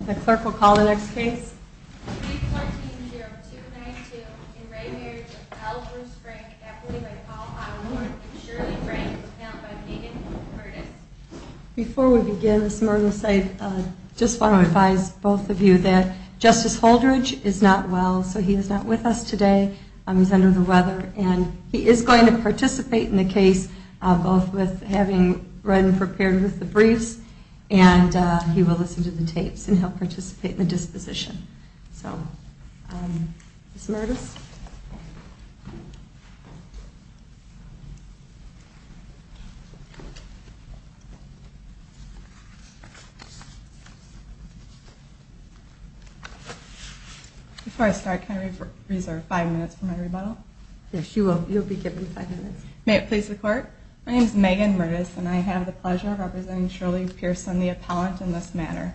The Clerk will call the next case. Before we begin, I just want to advise both of you that Justice Holdridge is not well, so he is not with us today. He's under the weather and he is going to participate in the case, both with having read and prepared with the briefs and he will listen to the tapes. And he'll participate in the disposition. So, Ms. Mertes. Before I start, can I reserve five minutes for my rebuttal? Yes, you will. You'll be given five minutes. May it please the Court. My name is Megan Mertes and I have the pleasure of representing Shirley Pearson, the appellant in this matter.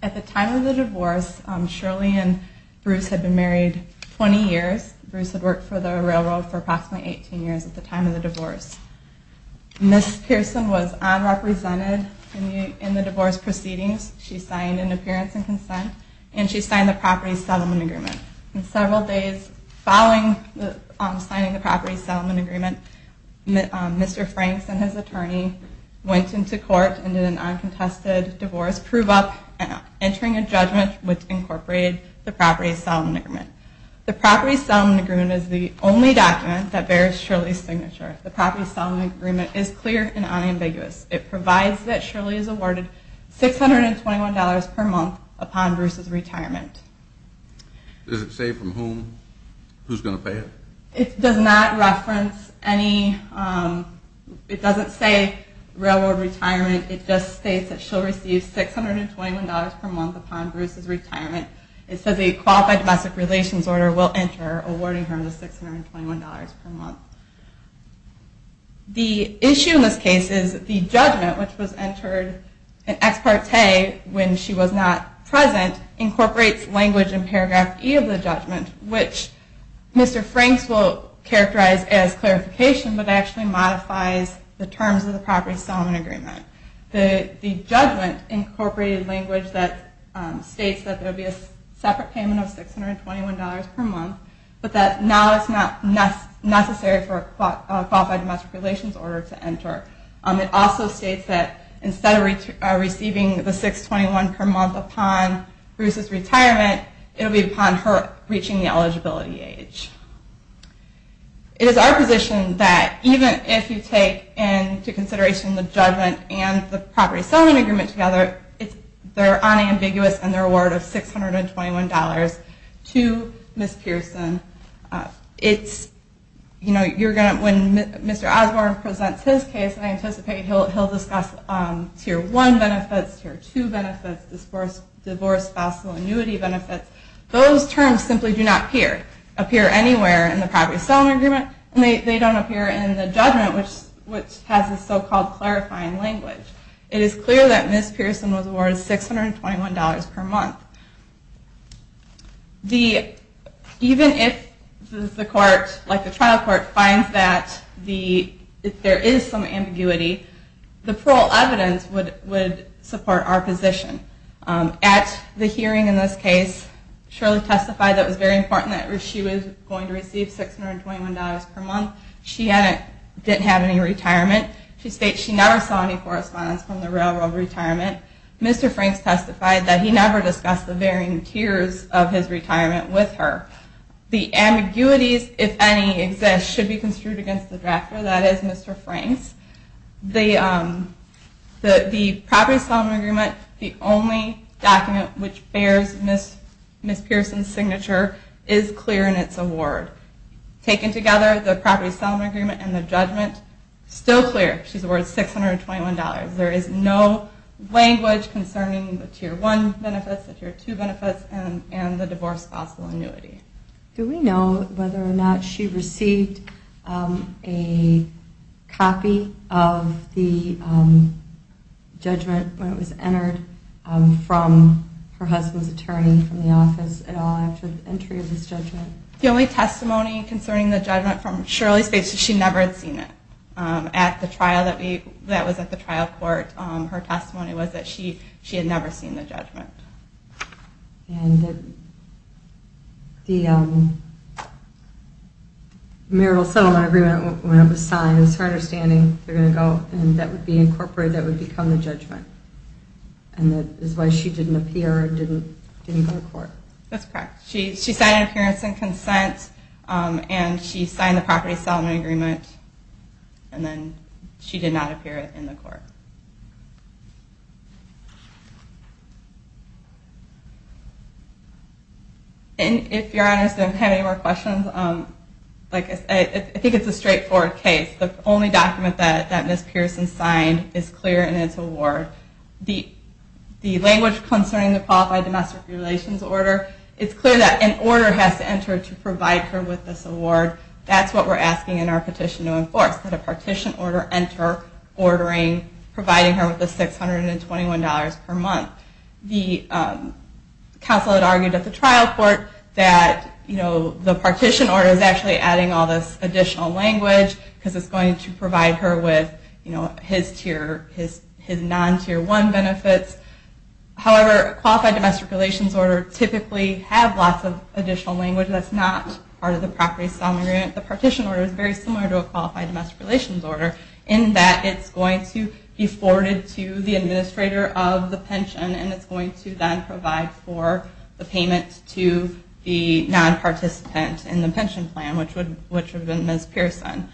At the time of the divorce, Shirley and Bruce had been married 20 years. Bruce had worked for the railroad for approximately 18 years at the time of the divorce. Ms. Pearson was unrepresented in the divorce proceedings. She signed an appearance and consent and she signed the property settlement agreement. Several days following the signing of the property settlement agreement, Mr. Franks and his attorney went into court and did an uncontested divorce, proving up and entering a judgment which incorporated the property settlement agreement. The property settlement agreement is the only document that bears Shirley's signature. The property settlement agreement is clear and unambiguous. It provides that Shirley is awarded $621 per month upon Bruce's retirement. Does it say from whom, who's going to pay it? It does not reference any, it doesn't say railroad retirement. It just states that she'll receive $621 per month upon Bruce's retirement. It says a qualified domestic relations order will enter awarding her the $621 per month. The issue in this case is the judgment, which was entered in ex parte when she was not present, incorporates language in paragraph E of the judgment, which Mr. Franks will characterize as clarification but actually modifies the terms of the property settlement agreement. The judgment incorporated language that states that there will be a separate payment of $621 per month, but that now it's not necessary for a qualified domestic relations order to enter. It also states that instead of receiving the $621 per month upon Bruce's retirement, it will be upon her reaching the eligibility age. It is our position that even if you take into consideration the judgment and the property settlement agreement together, they're unambiguous in their award of $621 to Ms. Pearson. When Mr. Osborne presents his case, I anticipate he'll discuss tier 1 benefits, tier 2 benefits, divorce, spousal, annuity benefits. Those terms simply do not appear anywhere in the property settlement agreement, and they don't appear in the judgment, which has this so-called clarifying language. It is clear that Ms. Pearson was awarded $621 per month. Even if the trial court finds that there is some ambiguity, the parole evidence would support our position. At the hearing in this case, Shirley testified that it was very important that she was going to receive $621 per month. She didn't have any retirement. She states she never saw any correspondence from the railroad retirement. Mr. Franks testified that he never discussed the varying tiers of his retirement with her. The ambiguities, if any, exist should be construed against the drafter, that is Mr. Franks. The property settlement agreement, the only document which bears Ms. Pearson's signature, is clear in its award. Taken together, the property settlement agreement and the judgment, still clear. She's awarded $621. There is no language concerning the tier 1 benefits, the tier 2 benefits, and the divorce, spousal, annuity. Do we know whether or not she received a copy of the judgment when it was entered from her husband's attorney from the office at all after the entry of this judgment? The only testimony concerning the judgment from Shirley states that she never had seen it. At the trial that was at the trial court, her testimony was that she had never seen the judgment. And the marital settlement agreement, when it was signed, it was her understanding that would be incorporated, that would become the judgment. And that is why she didn't appear or didn't go to court. That's correct. She signed an appearance and consent, and she signed the property settlement agreement, and then she did not appear in the court. And if your honors don't have any more questions, I think it's a straightforward case. The only document that Ms. Pearson signed is clear in its award. The language concerning the qualified domestic relations order, it's clear that an order has to enter to provide her with this award. That's what we're asking in our petition to enforce, that a partition order enter, ordering, providing her with the $621 per month. The counsel had argued at the trial court that the partition order is actually adding all this additional language, because it's going to provide her with his non-tier one benefits. However, a qualified domestic relations order typically have lots of additional language that's not part of the property settlement agreement. The partition order is very similar to a qualified domestic relations order, in that it's going to be forwarded to the administrator of the pension, and it's going to then provide for the payment to the non-participant in the pension plan, which would have been Ms. Pearson.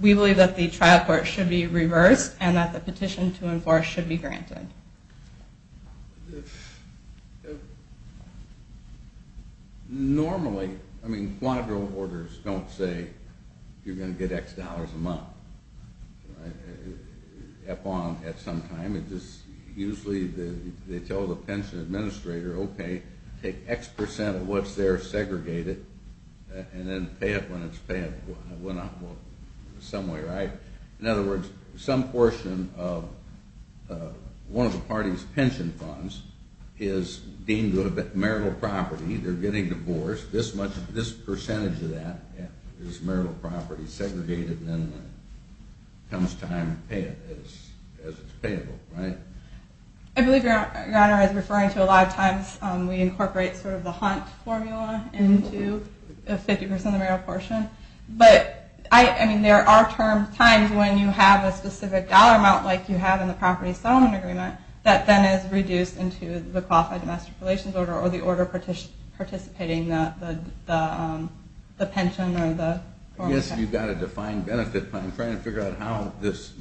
We believe that the trial court should be reversed, and that the petition to enforce should be granted. Normally, I mean, quadro orders don't say you're going to get X dollars a month. Usually they tell the pension administrator, okay, take X percent of what's there, segregate it, and then pay it when it's paid. In other words, some portion of one of the party's pension funds is deemed marital property, they're getting divorced, this percentage of that is marital property, segregated, and then it comes time to pay it as it's payable. I believe your honor is referring to a lot of times we incorporate sort of the hunt formula into 50% of the marital portion, but I mean, there are times when you have a specific dollar amount like you have in the property settlement agreement that then is reduced into the qualified domestic relations order or the order participating the pension. Yes, you've got a defined benefit plan. I'm trying to figure out how this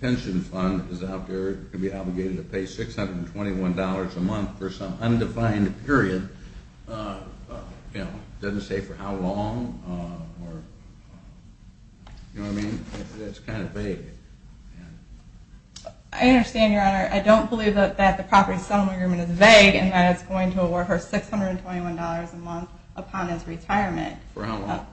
pension fund is out there to be obligated to pay $621 a month for some undefined period. It doesn't say for how long. You know what I mean? It's kind of vague. I understand your honor. I don't believe that the property settlement agreement is vague and that it's going to award her $621 a month upon his retirement. For how long?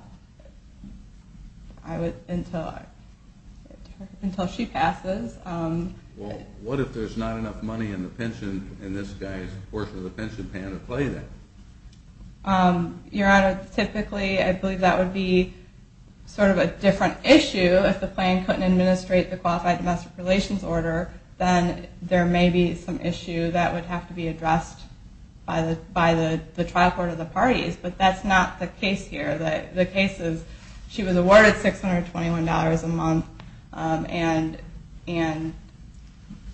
Until she passes. Well, what if there's not enough money in the pension, in this guy's portion of the pension, paying to pay that? Your honor, typically I believe that would be sort of a different issue if the plan couldn't administrate the qualified domestic relations order, then there may be some issue that would have to be addressed by the trial court of the parties, but that's not the case here. The case is she was awarded $621 a month and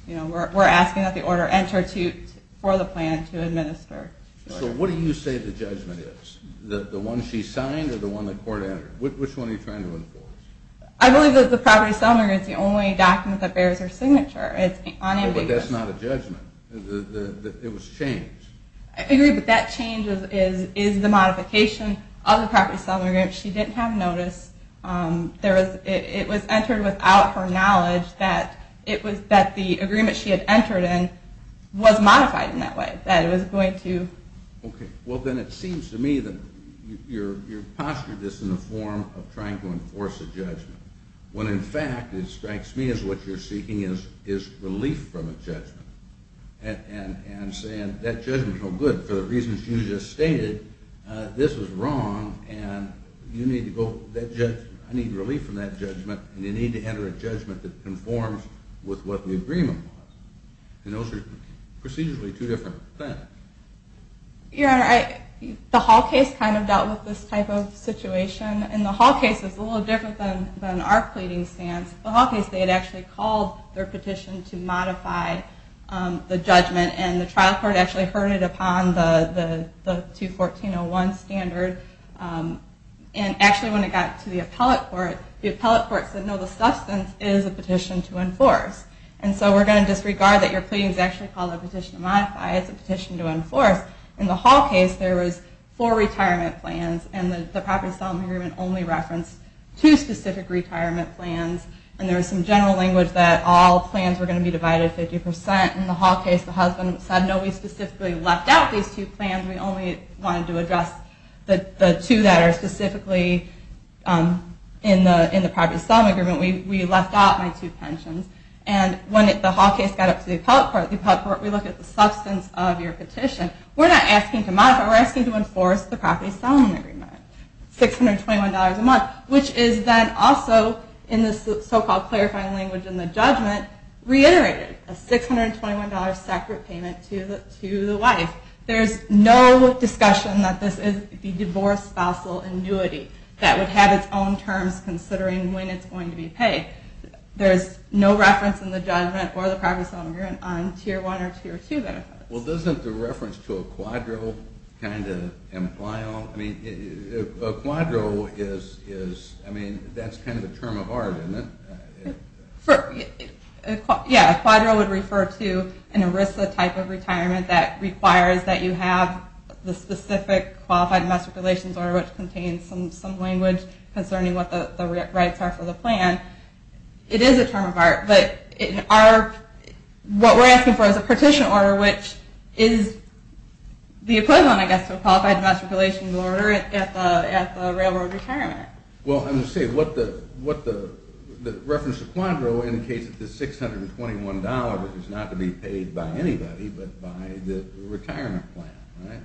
we're asking that the order enter for the plan to administer. So what do you say the judgment is? The one she signed or the one the court entered? Which one are you trying to enforce? I believe that the property settlement agreement is the only document that bears her signature. Well, but that's not a judgment. It was changed. I agree, but that change is the modification of the property settlement agreement. She didn't have notice. It was entered without her knowledge that the agreement she had entered in was modified in that way. Okay, well then it seems to me that you're posturing this in the form of trying to enforce a judgment, when in fact it strikes me as what you're seeking is relief from a judgment. And saying that judgment's no good for the reasons you just stated. This is wrong and I need relief from that judgment and you need to enter a judgment that conforms with what the agreement was. And those are procedurally two different things. Your Honor, the Hall case kind of dealt with this type of situation and the Hall case is a little different than our pleading stance. The Hall case they had actually called their petition to modify the judgment and the trial court actually heard it upon the 214-01 standard. And actually when it got to the appellate court, the appellate court said no, the substance is a petition to enforce. And so we're going to disregard that your pleading is actually called a petition to modify, it's a petition to enforce. In the Hall case there was four retirement plans and the property settlement agreement only referenced two specific retirement plans. And there was some general language that all plans were going to be divided 50%. In the Hall case the husband said no, we specifically left out these two plans. We only wanted to address the two that are specifically in the property settlement agreement. We left out my two pensions. And when the Hall case got up to the appellate court, we looked at the substance of your petition. We're not asking to modify, we're asking to enforce the property settlement agreement. $621 a month, which is then also in this so-called clarifying language in the judgment, reiterated. A $621 separate payment to the wife. There's no discussion that this is the divorce spousal annuity that would have its own terms considering when it's going to be paid. There's no reference in the judgment or the property settlement agreement on Tier 1 or Tier 2 benefits. Well doesn't the reference to a quadro kind of imply all? I mean, a quadro is, I mean, that's kind of a term of art, isn't it? Yeah, a quadro would refer to an ERISA type of retirement that requires that you have the specific Qualified Domestic Relations order, which contains some language concerning what the rights are for the plan. It is a term of art, but what we're asking for is a petition order, which is the equivalent, I guess, to a Qualified Domestic Relations order at the railroad retirement. Well, I'm just saying, the reference to quadro indicates that the $621 is not to be paid by anybody but by the retirement plan, right?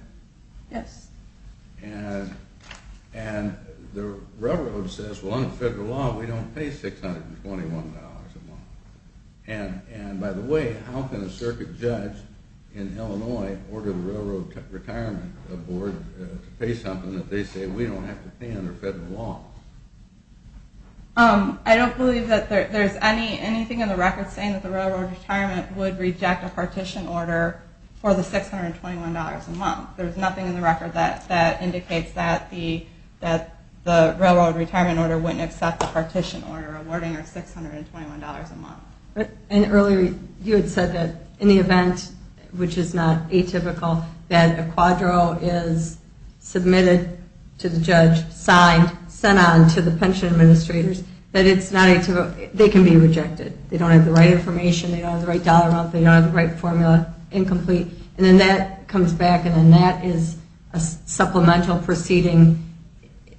Yes. And the railroad says, well, under federal law, we don't pay $621 a month. And by the way, how can a circuit judge in Illinois order the railroad retirement board to pay something if they say we don't have to pay under federal law? I don't believe that there's anything in the record saying that the railroad retirement would reject a partition order for the $621 a month. There's nothing in the record that indicates that the railroad retirement order wouldn't accept a partition order awarding a $621 a month. And earlier, you had said that in the event, which is not atypical, that a quadro is submitted to the judge, signed, sent on to the pension administrators, that it's not atypical, they can be rejected. They don't have the right information, they don't have the right dollar amount, they don't have the right formula, incomplete. And then that comes back and then that is a supplemental proceeding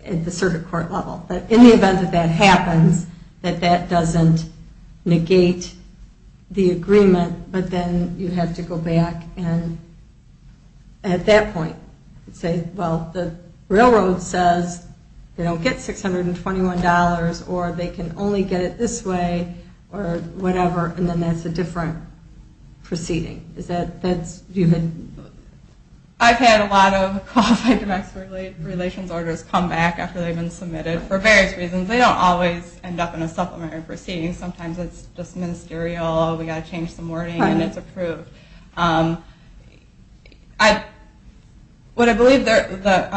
at the circuit court level. In the event that that happens, that that doesn't negate the agreement, but then you have to go back and at that point say, well, the railroad says they don't get $621 or they can only get it this way or whatever, and then that's a different proceeding. I've had a lot of qualified director's relations orders come back after they've been submitted for various reasons. They don't always end up in a supplementary proceeding. Sometimes it's just ministerial, we've got to change some wording, and it's approved. What I believe Mr.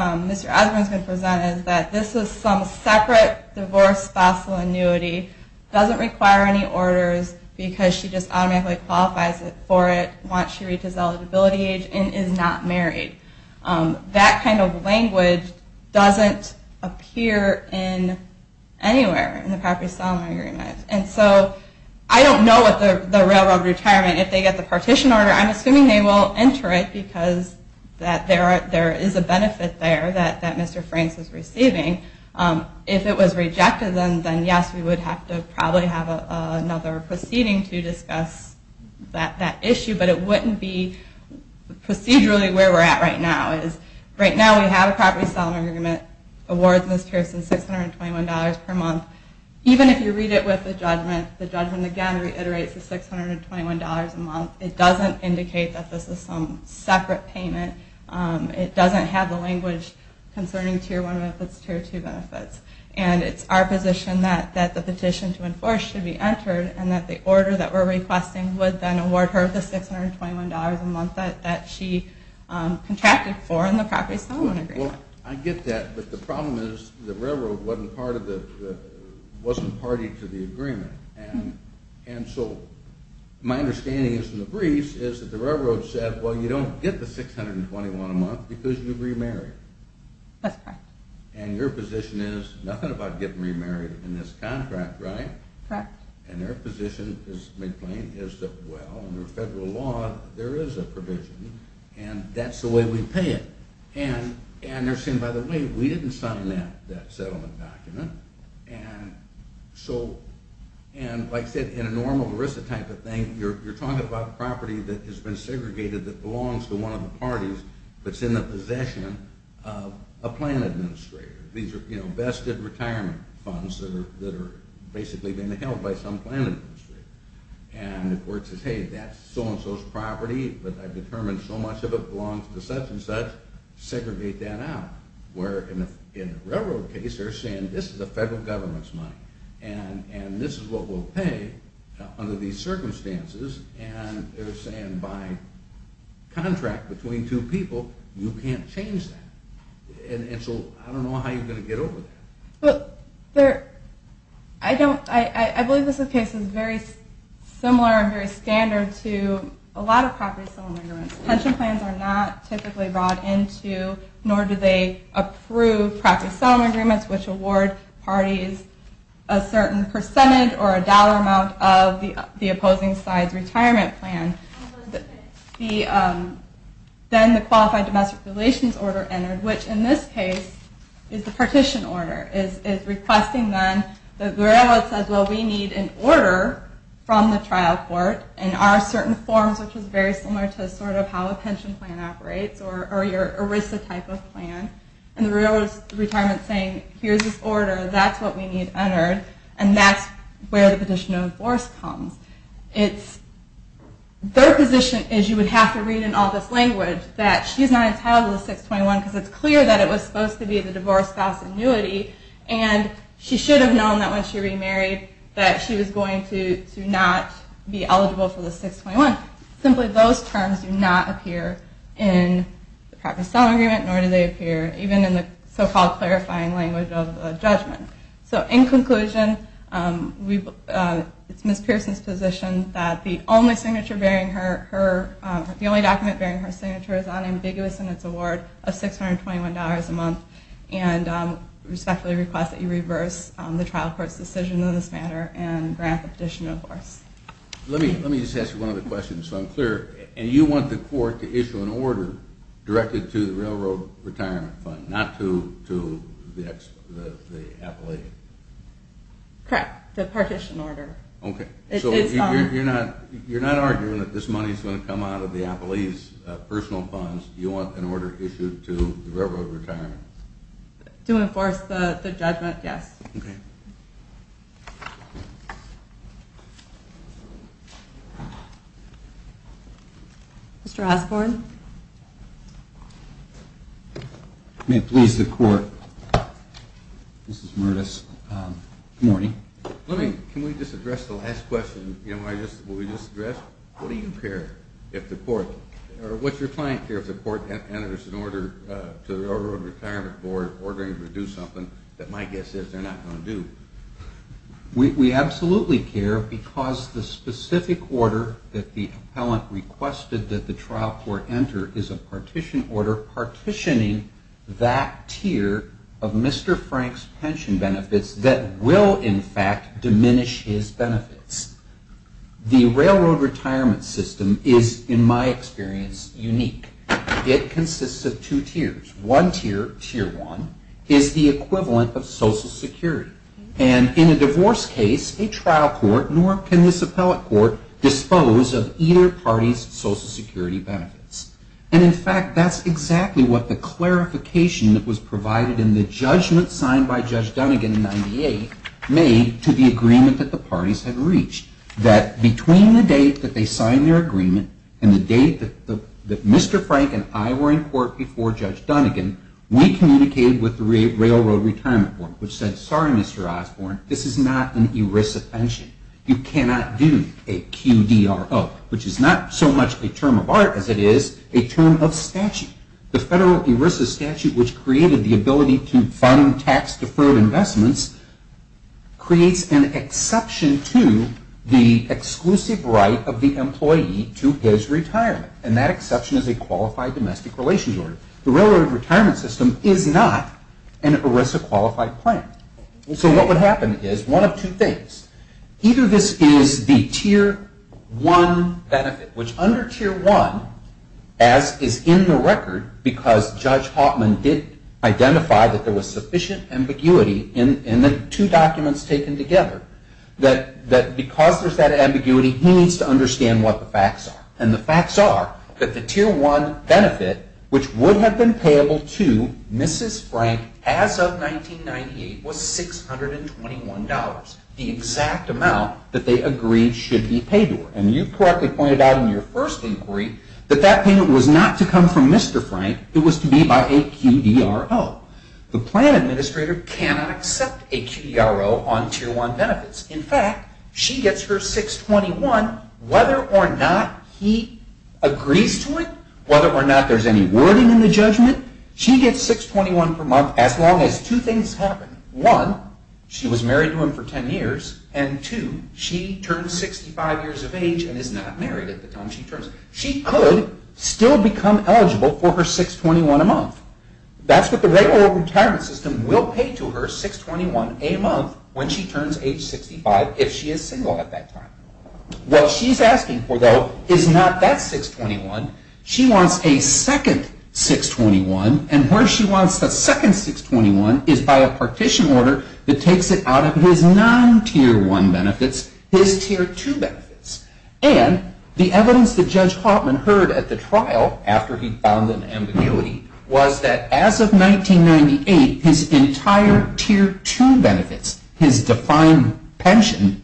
Osborne has presented is that this is some separate divorce spousal annuity, doesn't require any orders, because she just automatically qualifies for it once she reaches eligibility age and is not married. That kind of language doesn't appear anywhere in the property settlement agreement. I don't know what the railroad retirement, if they get the partition order, I'm assuming they will enter it, because there is a benefit there that Mr. Franks is receiving. If it was rejected, then yes, we would have to probably have another proceeding to discuss that issue, but it wouldn't be procedurally where we're at right now. Right now we have a property settlement agreement award Ms. Pearson $621 per month. Even if you read it with the judgment, the judgment again reiterates the $621 a month. It doesn't indicate that this is some separate payment. It doesn't have the language concerning Tier 1 benefits, Tier 2 benefits. And it's our position that the petition to enforce should be entered and that the order that we're requesting would then award her the $621 a month that she contracted for in the property settlement agreement. I get that, but the problem is the railroad wasn't party to the agreement. And so my understanding is in the briefs is that the railroad said, well, you don't get the $621 a month because you remarried. That's correct. And your position is nothing about getting remarried in this contract, right? Correct. And their position is made plain is that, well, under federal law there is a provision, and that's the way we pay it. And they're saying, by the way, we didn't sign that settlement document. And like I said, in a normal ERISA type of thing, you're talking about property that has been segregated that belongs to one of the parties that's in the possession of a plan administrator. These are vested retirement funds that are basically being held by some plan administrator. And the court says, hey, that's so-and-so's property, but I've determined so much of it belongs to such-and-such. Segregate that out. Where in the railroad case, they're saying this is the federal government's money, and this is what we'll pay under these circumstances. And they're saying by contract between two people, you can't change that. And so I don't know how you're going to get over that. I believe this case is very similar and very standard to a lot of property settlement agreements. Pension plans are not typically brought into, nor do they approve, property settlement agreements, which award parties a certain percentage or a dollar amount of the opposing side's retirement plan. Then the Qualified Domestic Relations Order entered, which in this case is the partition order, is requesting then, the railroad says, well, we need an order from the trial court in our certain forms, which is very similar to sort of how a pension plan operates, or your ERISA type of plan. And the railroad's retirement's saying, here's this order, that's what we need entered, and that's where the petition to enforce comes. Their position is you would have to read in all this language that she's not entitled to the 621, because it's clear that it was supposed to be the divorce spouse annuity, and she should have known that when she remarried that she was going to not be eligible for the 621. Simply those terms do not appear in the property settlement agreement, nor do they appear even in the so-called clarifying language of judgment. So in conclusion, it's Ms. Pearson's position that the only document bearing her signature is unambiguous in its award of $621 a month, and respectfully request that you reverse the trial court's decision in this matter and grant the petition to enforce. Let me just ask you one other question, so I'm clear. And you want the court to issue an order directed to the railroad retirement fund, not to the appellee? Correct, the partition order. So you're not arguing that this money's going to come out of the appellee's personal funds, you want an order issued to the railroad retirement? To enforce the judgment, yes. Mr. Osborne? May it please the court, this is Mertis. Good morning. Can we just address the last question? What do you care if the court, or what's your client care if the court enters an order to the railroad retirement board ordering them to do something that my guess is they're not going to do? We absolutely care because the specific order that the appellant requested that the trial court enter is a partition order partitioning that tier of Mr. Frank's pension benefits that will, in fact, diminish his benefits. The railroad retirement system is, in my experience, unique. It consists of two tiers. One tier, tier one, is the equivalent of Social Security. And in a divorce case, a trial court nor can this appellate court dispose of either party's Social Security benefits. And, in fact, that's exactly what the clarification that was provided in the judgment signed by Judge Dunnegan in 98 made to the agreement that the parties had reached. That between the date that they signed their agreement and the date that Mr. Frank and I were in court before Judge Dunnegan, we communicated with the railroad retirement board, which said, sorry, Mr. Osborne, this is not an ERISA pension. You cannot do a QDRO, which is not so much a term of art as it is a term of statute. The federal ERISA statute, which created the ability to fund tax deferred investments, creates an exception to the exclusive right of the employee to his retirement. And that exception is a qualified domestic relations order. The railroad retirement system is not an ERISA qualified plan. So what would happen is one of two things. Either this is the tier one benefit, which under tier one, as is in the record, because Judge Hauptman did identify that there was sufficient ambiguity in the two documents taken together, that because there's that ambiguity, he needs to understand what the facts are. And the facts are that the tier one benefit, which would have been payable to Mrs. Frank as of 1998, was $621, the exact amount that they agreed should be paid to her. And you correctly pointed out in your first inquiry that that payment was not to come from Mr. Frank. It was to be by a QDRO. The plan administrator cannot accept a QDRO on tier one benefits. In fact, she gets her $621 whether or not he agrees to it, whether or not there's any wording in the judgment. She gets $621 per month as long as two things happen. One, she was married to him for 10 years. And two, she turned 65 years of age and is not married at the time she turns. She could still become eligible for her $621 a month. That's what the regular retirement system will pay to her, $621 a month, when she turns age 65, if she is single at that time. What she's asking for, though, is not that $621. She wants a second $621. And where she wants the second $621 is by a partition order that takes it out of his non-tier one benefits, his tier two benefits. And the evidence that Judge Hauptman heard at the trial, after he found an ambiguity, was that as of 1998, his entire tier two benefits, his defined pension,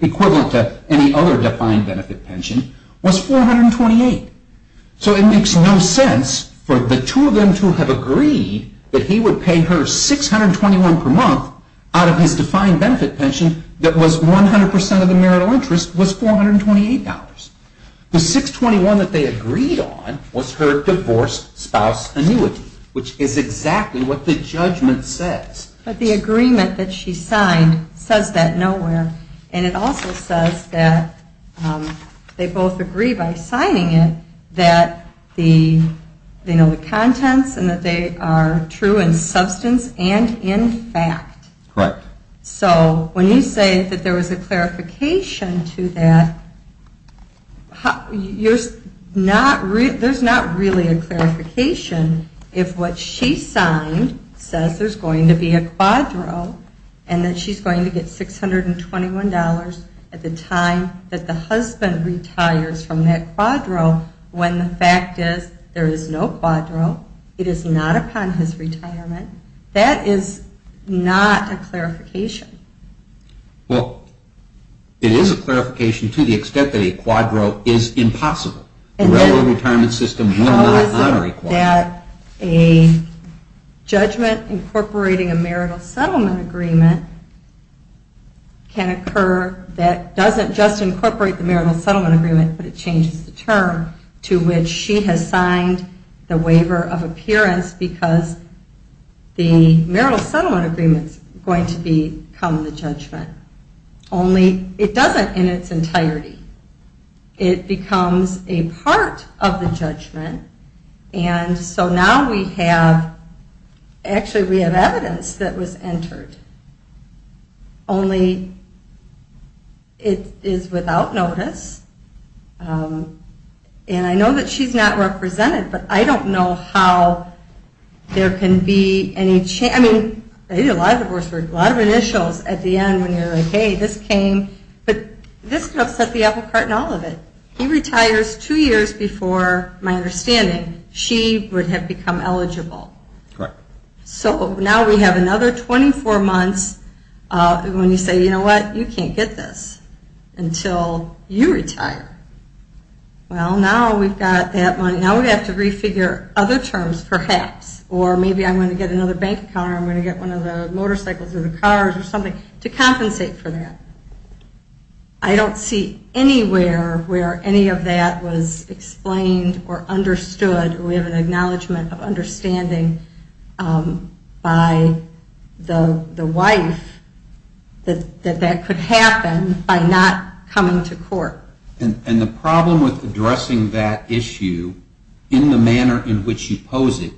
equivalent to any other defined benefit pension, was $428. So it makes no sense for the two of them to have agreed that he would pay her $621 per month out of his defined benefit pension that was 100% of the marital interest was $428. The $621 that they agreed on was her divorce spouse annuity, which is exactly what the judgment says. But the agreement that she signed says that nowhere. And it also says that they both agree by signing it that they know the contents and that they are true in substance and in fact. Correct. So when you say that there was a clarification to that, there's not really a clarification if what she signed says there's going to be a quadro and that she's going to get $621 at the time that the husband retires from that quadro when the fact is there is no quadro. It is not upon his retirement. That is not a clarification. Well, it is a clarification to the extent that a quadro is impossible. The railroad retirement system will not honor a quadro. A judgment incorporating a marital settlement agreement can occur that doesn't just incorporate the marital settlement agreement, but it changes the term to which she has signed the waiver of appearance because the marital settlement agreement is going to become the judgment. Only it doesn't in its entirety. It becomes a part of the judgment. And so now we have, actually we have evidence that was entered. Only it is without notice. And I know that she's not represented, but I don't know how there can be any change. A lot of initials at the end when you're like, hey, this came. But this upset the apple cart in all of it. He retires two years before, my understanding, she would have become eligible. Correct. So now we have another 24 months when you say, you know what, you can't get this until you retire. Well, now we've got that money. Now we have to refigure other terms, perhaps, or maybe I'm going to get another bank account or I'm going to get one of the motorcycles or the cars or something to compensate for that. I don't see anywhere where any of that was explained or understood. We have an acknowledgment of understanding by the wife that that could happen by not coming to court. And the problem with addressing that issue in the manner in which you pose it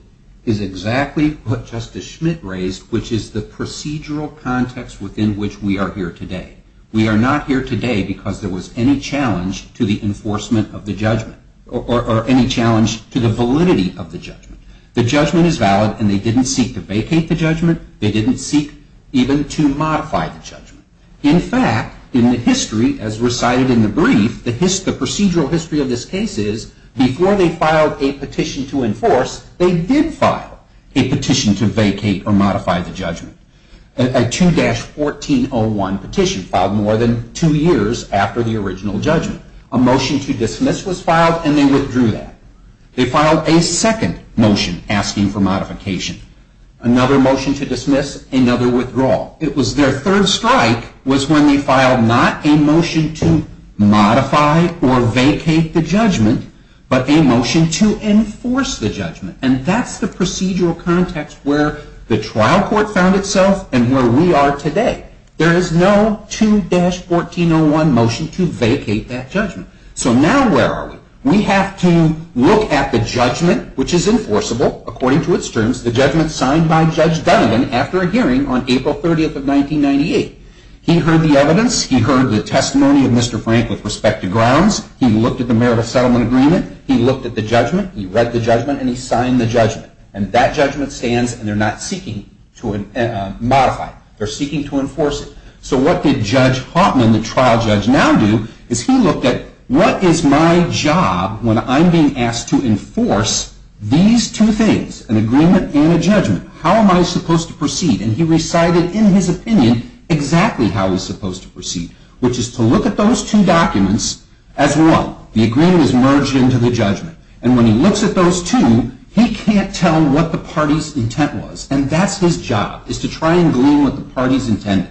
is exactly what Justice Schmidt raised, which is the procedural context within which we are here today. We are not here today because there was any challenge to the enforcement of the judgment or any challenge to the validity of the judgment. The judgment is valid, and they didn't seek to vacate the judgment. They didn't seek even to modify the judgment. In fact, in the history, as recited in the brief, the procedural history of this case is, before they filed a petition to enforce, they did file a petition to vacate or modify the judgment. A 2-1401 petition filed more than two years after the original judgment. A motion to dismiss was filed, and they withdrew that. They filed a second motion asking for modification. Another motion to dismiss, another withdrawal. It was their third strike was when they filed not a motion to modify or vacate the judgment, but a motion to enforce the judgment. And that's the procedural context where the trial court found itself and where we are today. There is no 2-1401 motion to vacate that judgment. So now where are we? We have to look at the judgment, which is enforceable according to its terms, which is the judgment signed by Judge Dunnegan after a hearing on April 30th of 1998. He heard the evidence. He heard the testimony of Mr. Frank with respect to grounds. He looked at the Merit of Settlement Agreement. He looked at the judgment. He read the judgment, and he signed the judgment. And that judgment stands, and they're not seeking to modify it. They're seeking to enforce it. So what did Judge Hautman, the trial judge, now do is he looked at, what is my job when I'm being asked to enforce these two things, an agreement and a judgment? How am I supposed to proceed? And he recited in his opinion exactly how he's supposed to proceed, which is to look at those two documents as one. The agreement is merged into the judgment. And when he looks at those two, he can't tell what the party's intent was. And that's his job, is to try and glean what the party's intended.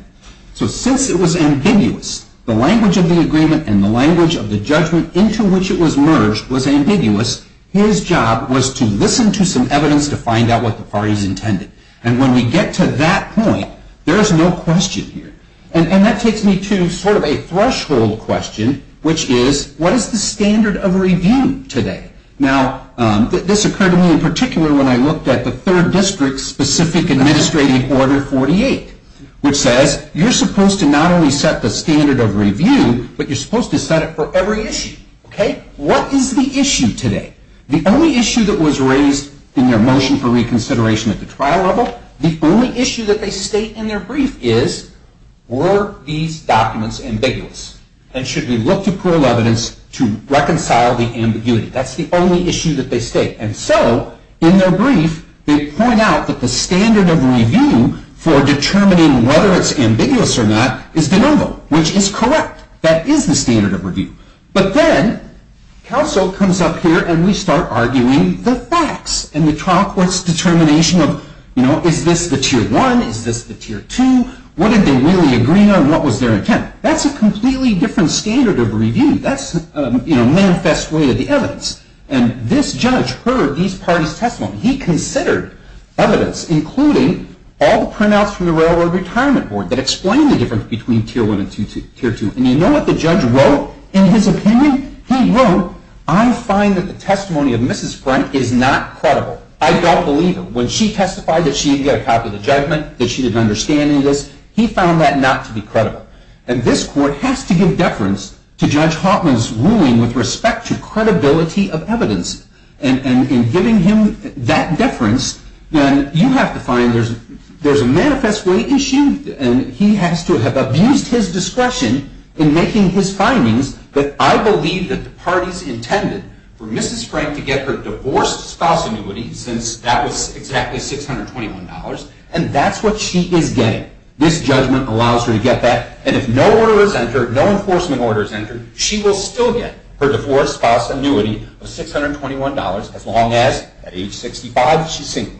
So since it was ambiguous, the language of the agreement and the language of the judgment into which it was merged was ambiguous. His job was to listen to some evidence to find out what the party's intended. And when we get to that point, there is no question here. And that takes me to sort of a threshold question, which is, what is the standard of review today? Now, this occurred to me in particular when I looked at the Third District's Specific Administrative Order 48, which says, you're supposed to not only set the standard of review, but you're supposed to set it for every issue. What is the issue today? The only issue that was raised in their motion for reconsideration at the trial level, the only issue that they state in their brief is, were these documents ambiguous? And should we look to plural evidence to reconcile the ambiguity? That's the only issue that they state. And so, in their brief, they point out that the standard of review for determining whether it's ambiguous or not is de novo, which is correct. That is the standard of review. But then, counsel comes up here and we start arguing the facts and the trial court's determination of, you know, is this the Tier 1? Is this the Tier 2? What did they really agree on? What was their intent? That's a completely different standard of review. That's a manifest way of the evidence. And this judge heard these parties' testimony. He considered evidence, including all the printouts from the Railroad Retirement Board that explain the difference between Tier 1 and Tier 2. And you know what the judge wrote in his opinion? He wrote, I find that the testimony of Mrs. Frank is not credible. I don't believe it. When she testified that she didn't get a copy of the judgment, that she didn't understand any of this, he found that not to be credible. And this court has to give deference to Judge Hauptman's ruling with respect to credibility of evidence. And in giving him that deference, then you have to find there's a manifest way issue and he has to have abused his discretion in making his findings that I believe that the parties intended for Mrs. Frank to get her divorced spouse annuity, since that was exactly $621, and that's what she is getting. This judgment allows her to get that. And if no order is entered, no enforcement order is entered, she will still get her divorced spouse annuity of $621, as long as at age 65 she's single.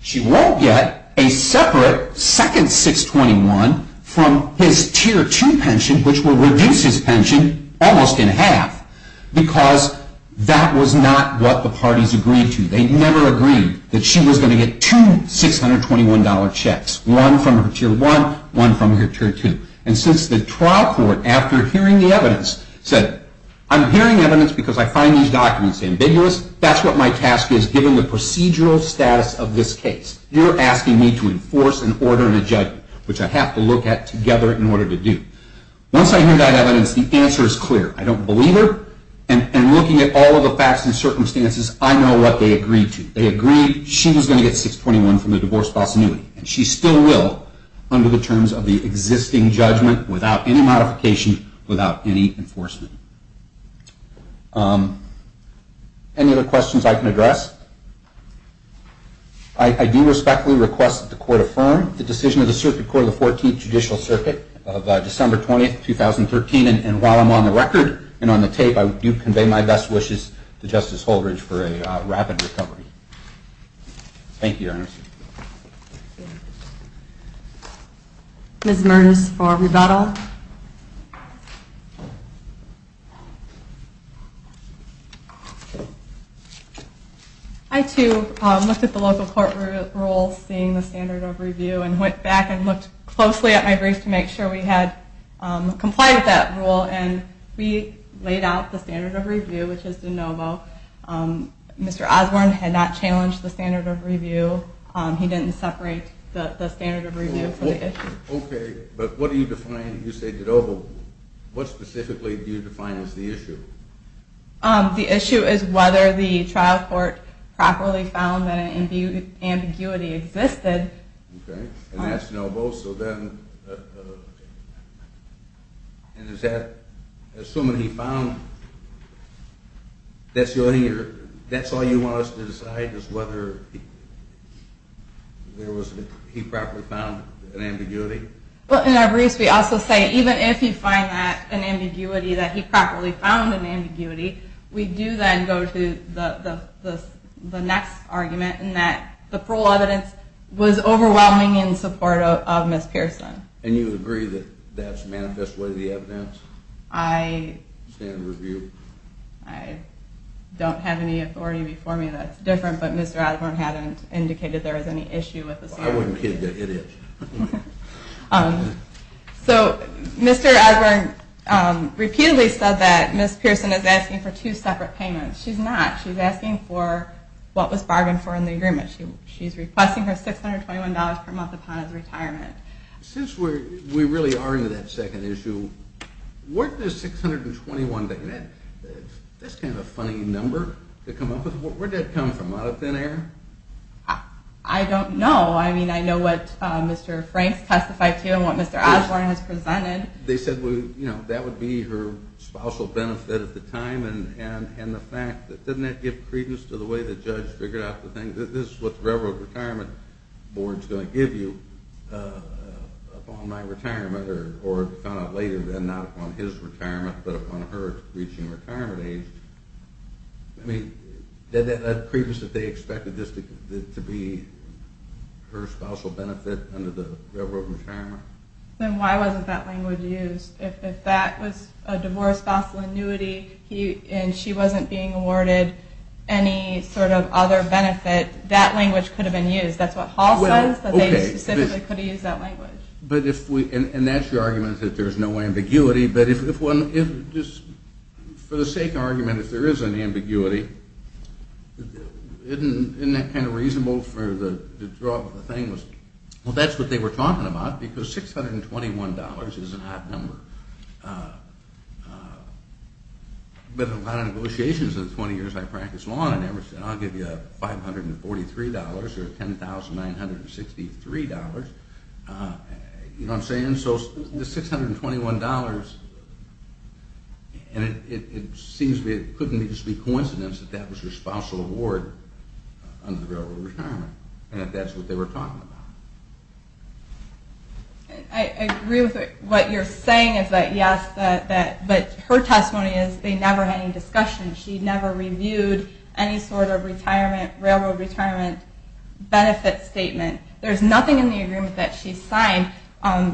She won't get a separate second $621 from his Tier 2 pension, which will reduce his pension almost in half, because that was not what the parties agreed to. They never agreed that she was going to get two $621 checks, one from her Tier 1, one from her Tier 2. And since the trial court, after hearing the evidence, said, I'm hearing evidence because I find these documents ambiguous, that's what my task is, giving the procedural status of this case. You're asking me to enforce an order and a judgment, which I have to look at together in order to do. Once I hear that evidence, the answer is clear. I don't believe her, and looking at all of the facts and circumstances, I know what they agreed to. They agreed she was going to get $621 from the divorced spouse annuity, and she still will, under the terms of the existing judgment, without any modification, without any enforcement. Any other questions I can address? I do respectfully request that the Court affirm the decision of the Circuit Court of the 14th Judicial Circuit of December 20, 2013. And while I'm on the record and on the tape, I do convey my best wishes to Justice Holdridge for a rapid recovery. Thank you, Your Honor. Ms. Mertes for rebuttal. I, too, looked at the local court rule, seeing the standard of review, and went back and looked closely at my briefs to make sure we had complied with that rule, and we laid out the standard of review, which is de novo. Mr. Osborne had not challenged the standard of review. He didn't separate the standard of review from the issue. Okay. But what do you define, you say de novo. What specifically do you define as the issue? The issue is whether the trial court properly found that an ambiguity existed. Okay. And that's de novo. So then, assuming he found that's your idea, that's all you want us to decide, is whether he properly found an ambiguity? Well, in our briefs we also say, even if you find that an ambiguity that he properly found an ambiguity, we do then go to the next argument, and that the parole evidence was overwhelming in support of Ms. Pearson. And you agree that that's manifestly the evidence? I don't have any authority before me that's different, but Mr. Osborne hadn't indicated there was any issue with the standard of review. I wouldn't kid you, it is. So Mr. Osborne repeatedly said that Ms. Pearson is asking for two separate payments. She's not. She's asking for what was bargained for in the agreement. She's requesting her $621 per month upon his retirement. Since we really are into that second issue, what does $621, that's kind of a funny number to come up with, where did that come from, out of thin air? I don't know. I mean, I know what Mr. Franks testified to and what Mr. Osborne has presented. They said that would be her spousal benefit at the time, and the fact that doesn't that give credence to the way the judge figured out the thing, this is what the Railroad Retirement Board is going to give you upon my retirement, or found out later then, not upon his retirement, but upon her reaching retirement age. I mean, that credence that they expected this to be her spousal benefit under the Railroad Retirement? Then why wasn't that language used? If that was a divorce spousal annuity and she wasn't being awarded any sort of other benefit, that language could have been used. That's what Hall says, that they specifically could have used that language. And that's your argument that there's no ambiguity, but for the sake of argument, if there is an ambiguity, isn't that kind of reasonable for the draw of the thing? Well, that's what they were talking about, because $621 is an odd number. But a lot of negotiations in the 20 years I practiced law in Emerson, I'll give you $543 or $10,963, you know what I'm saying? So the $621, and it seems it couldn't just be coincidence that that was her spousal award under the Railroad Retirement, and that's what they were talking about. I agree with what you're saying, but her testimony is they never had any discussion. She never reviewed any sort of Railroad Retirement benefit statement. There's nothing in the agreement that she signed.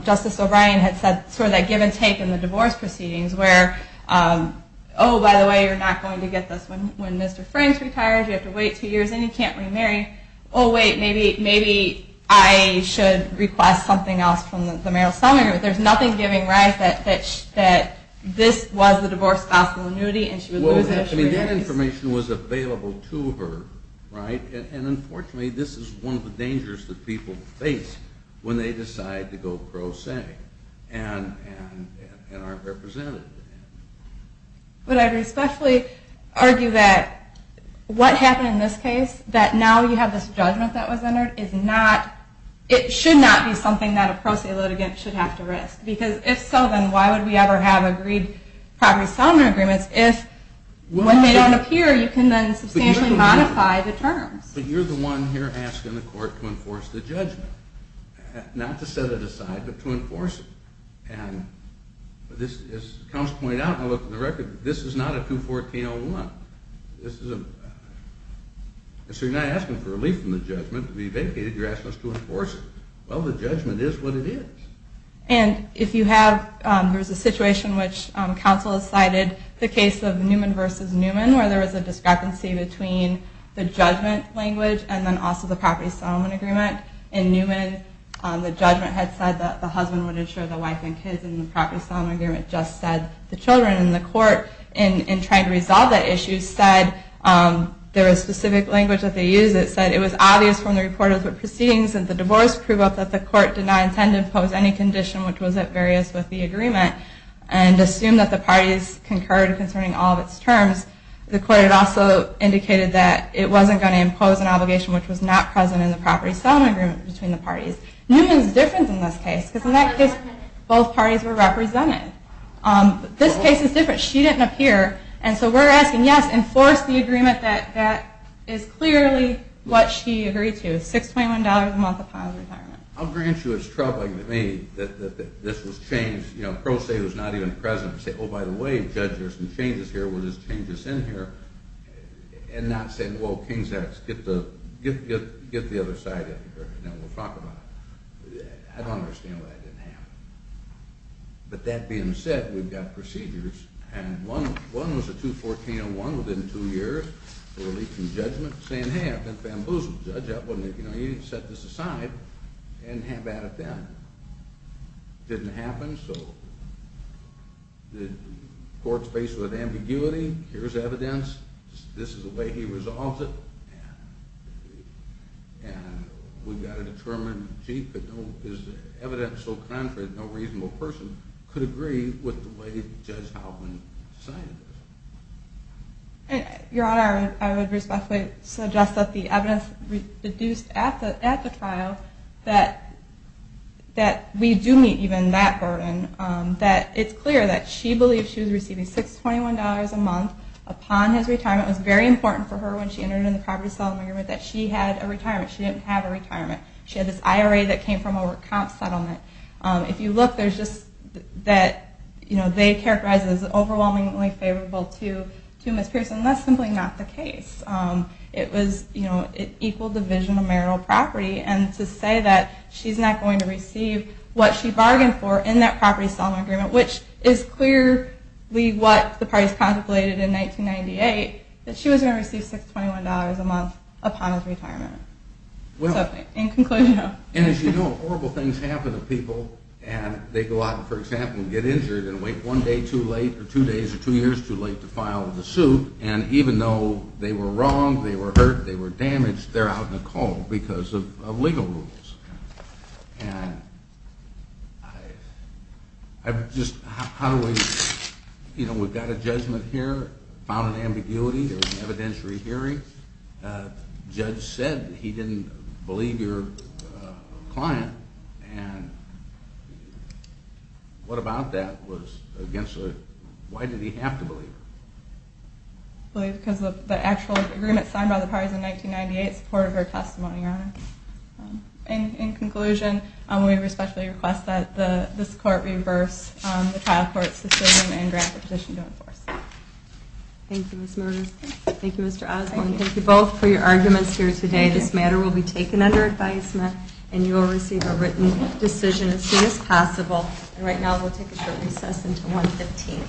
Justice O'Brien had said sort of that give and take in the divorce proceedings, where, oh, by the way, you're not going to get this when Mr. Franks retires, you have to wait two years, and you can't remarry. Oh, wait, maybe I should request something else from the mayoral summary. There's nothing giving rise that this was the divorce spousal annuity, and she would lose it. I mean, that information was available to her, right? And, unfortunately, this is one of the dangers that people face when they decide to go pro se and aren't represented. But I would especially argue that what happened in this case, that now you have this judgment that was entered, it should not be something that a pro se litigant should have to risk. Because if so, then why would we ever have agreed property settlement agreements if when they don't appear you can then substantially modify the terms? But you're the one here asking the court to enforce the judgment, not to set it aside, but to enforce it. And as counsel pointed out when I looked at the record, this is not a 214-01. So you're not asking for relief from the judgment to be vacated, you're asking us to enforce it. Well, the judgment is what it is. And if you have, there's a situation which counsel has cited, the case of Newman v. Newman, where there was a discrepancy between the judgment language and then also the property settlement agreement. In Newman, the judgment had said that the husband would insure the wife and kids and the property settlement agreement just said the children. And the court, in trying to resolve that issue, said there was specific language that they used that said it was obvious from the report of the proceedings that the divorce proved that the court did not intend to impose any condition which was at various with the agreement, and assumed that the parties concurred concerning all of its terms. The court had also indicated that it wasn't going to impose an obligation which was not present in the property settlement agreement between the parties. Newman's different in this case, because in that case both parties were represented. This case is different. She didn't appear, and so we're asking, yes, enforce the agreement that is clearly what she agreed to, $621 a month upon retirement. I'll grant you it's troubling to me that this was changed, you know, pro se it was not even present to say, oh, by the way, Judge, there's some changes here, we'll just change this in here, and not say, well, King's X, get the other side in here, and then we'll talk about it. I don't understand why that didn't happen. But that being said, we've got procedures, and one was a 214-01 within two years for release from judgment, saying, hey, I've been bamboozled. Judge, you know, you need to set this aside, and have at it then. Didn't happen, so the court's faced with ambiguity. Here's evidence. This is the way he resolves it, and we've got to determine, gee, is the evidence so contrary that no reasonable person could agree with the way Judge Halpin decided this? Your Honor, I would respectfully suggest that the evidence produced at the trial, that we do meet even that burden, that it's clear that she believed she was receiving $621 a month upon his retirement. It was very important for her when she entered into the property settlement agreement that she had a retirement. She didn't have a retirement. She had this IRA that came from a work comp settlement. If you look, they characterize it as overwhelmingly favorable to Ms. Pearson, and that's simply not the case. It was equal division of marital property, and to say that she's not going to receive what she bargained for in that property settlement agreement, which is clearly what the parties contemplated in 1998, that she was going to receive $621 a month upon his retirement. In conclusion, no. And as you know, horrible things happen to people, and they go out, for example, and get injured and wait one day too late or two days or two years too late to file the suit, and even though they were wrong, they were hurt, they were damaged, they're out in a cold because of legal rules. And I just, how do we, you know, we've got a judgment here, found an ambiguity, there was an evidentiary hearing. The judge said that he didn't believe your client, and what about that was against the, why did he have to believe her? Because of the actual agreement signed by the parties in 1998 in support of her testimony, Your Honor. In conclusion, we respectfully request that this court reverse the trial court's decision and draft a petition to enforce. Thank you, Ms. Murdoch. Thank you, Mr. Osborne. Thank you both for your arguments here today. This matter will be taken under advisement, and you will receive a written decision as soon as possible. And right now we'll take a short recess until 115.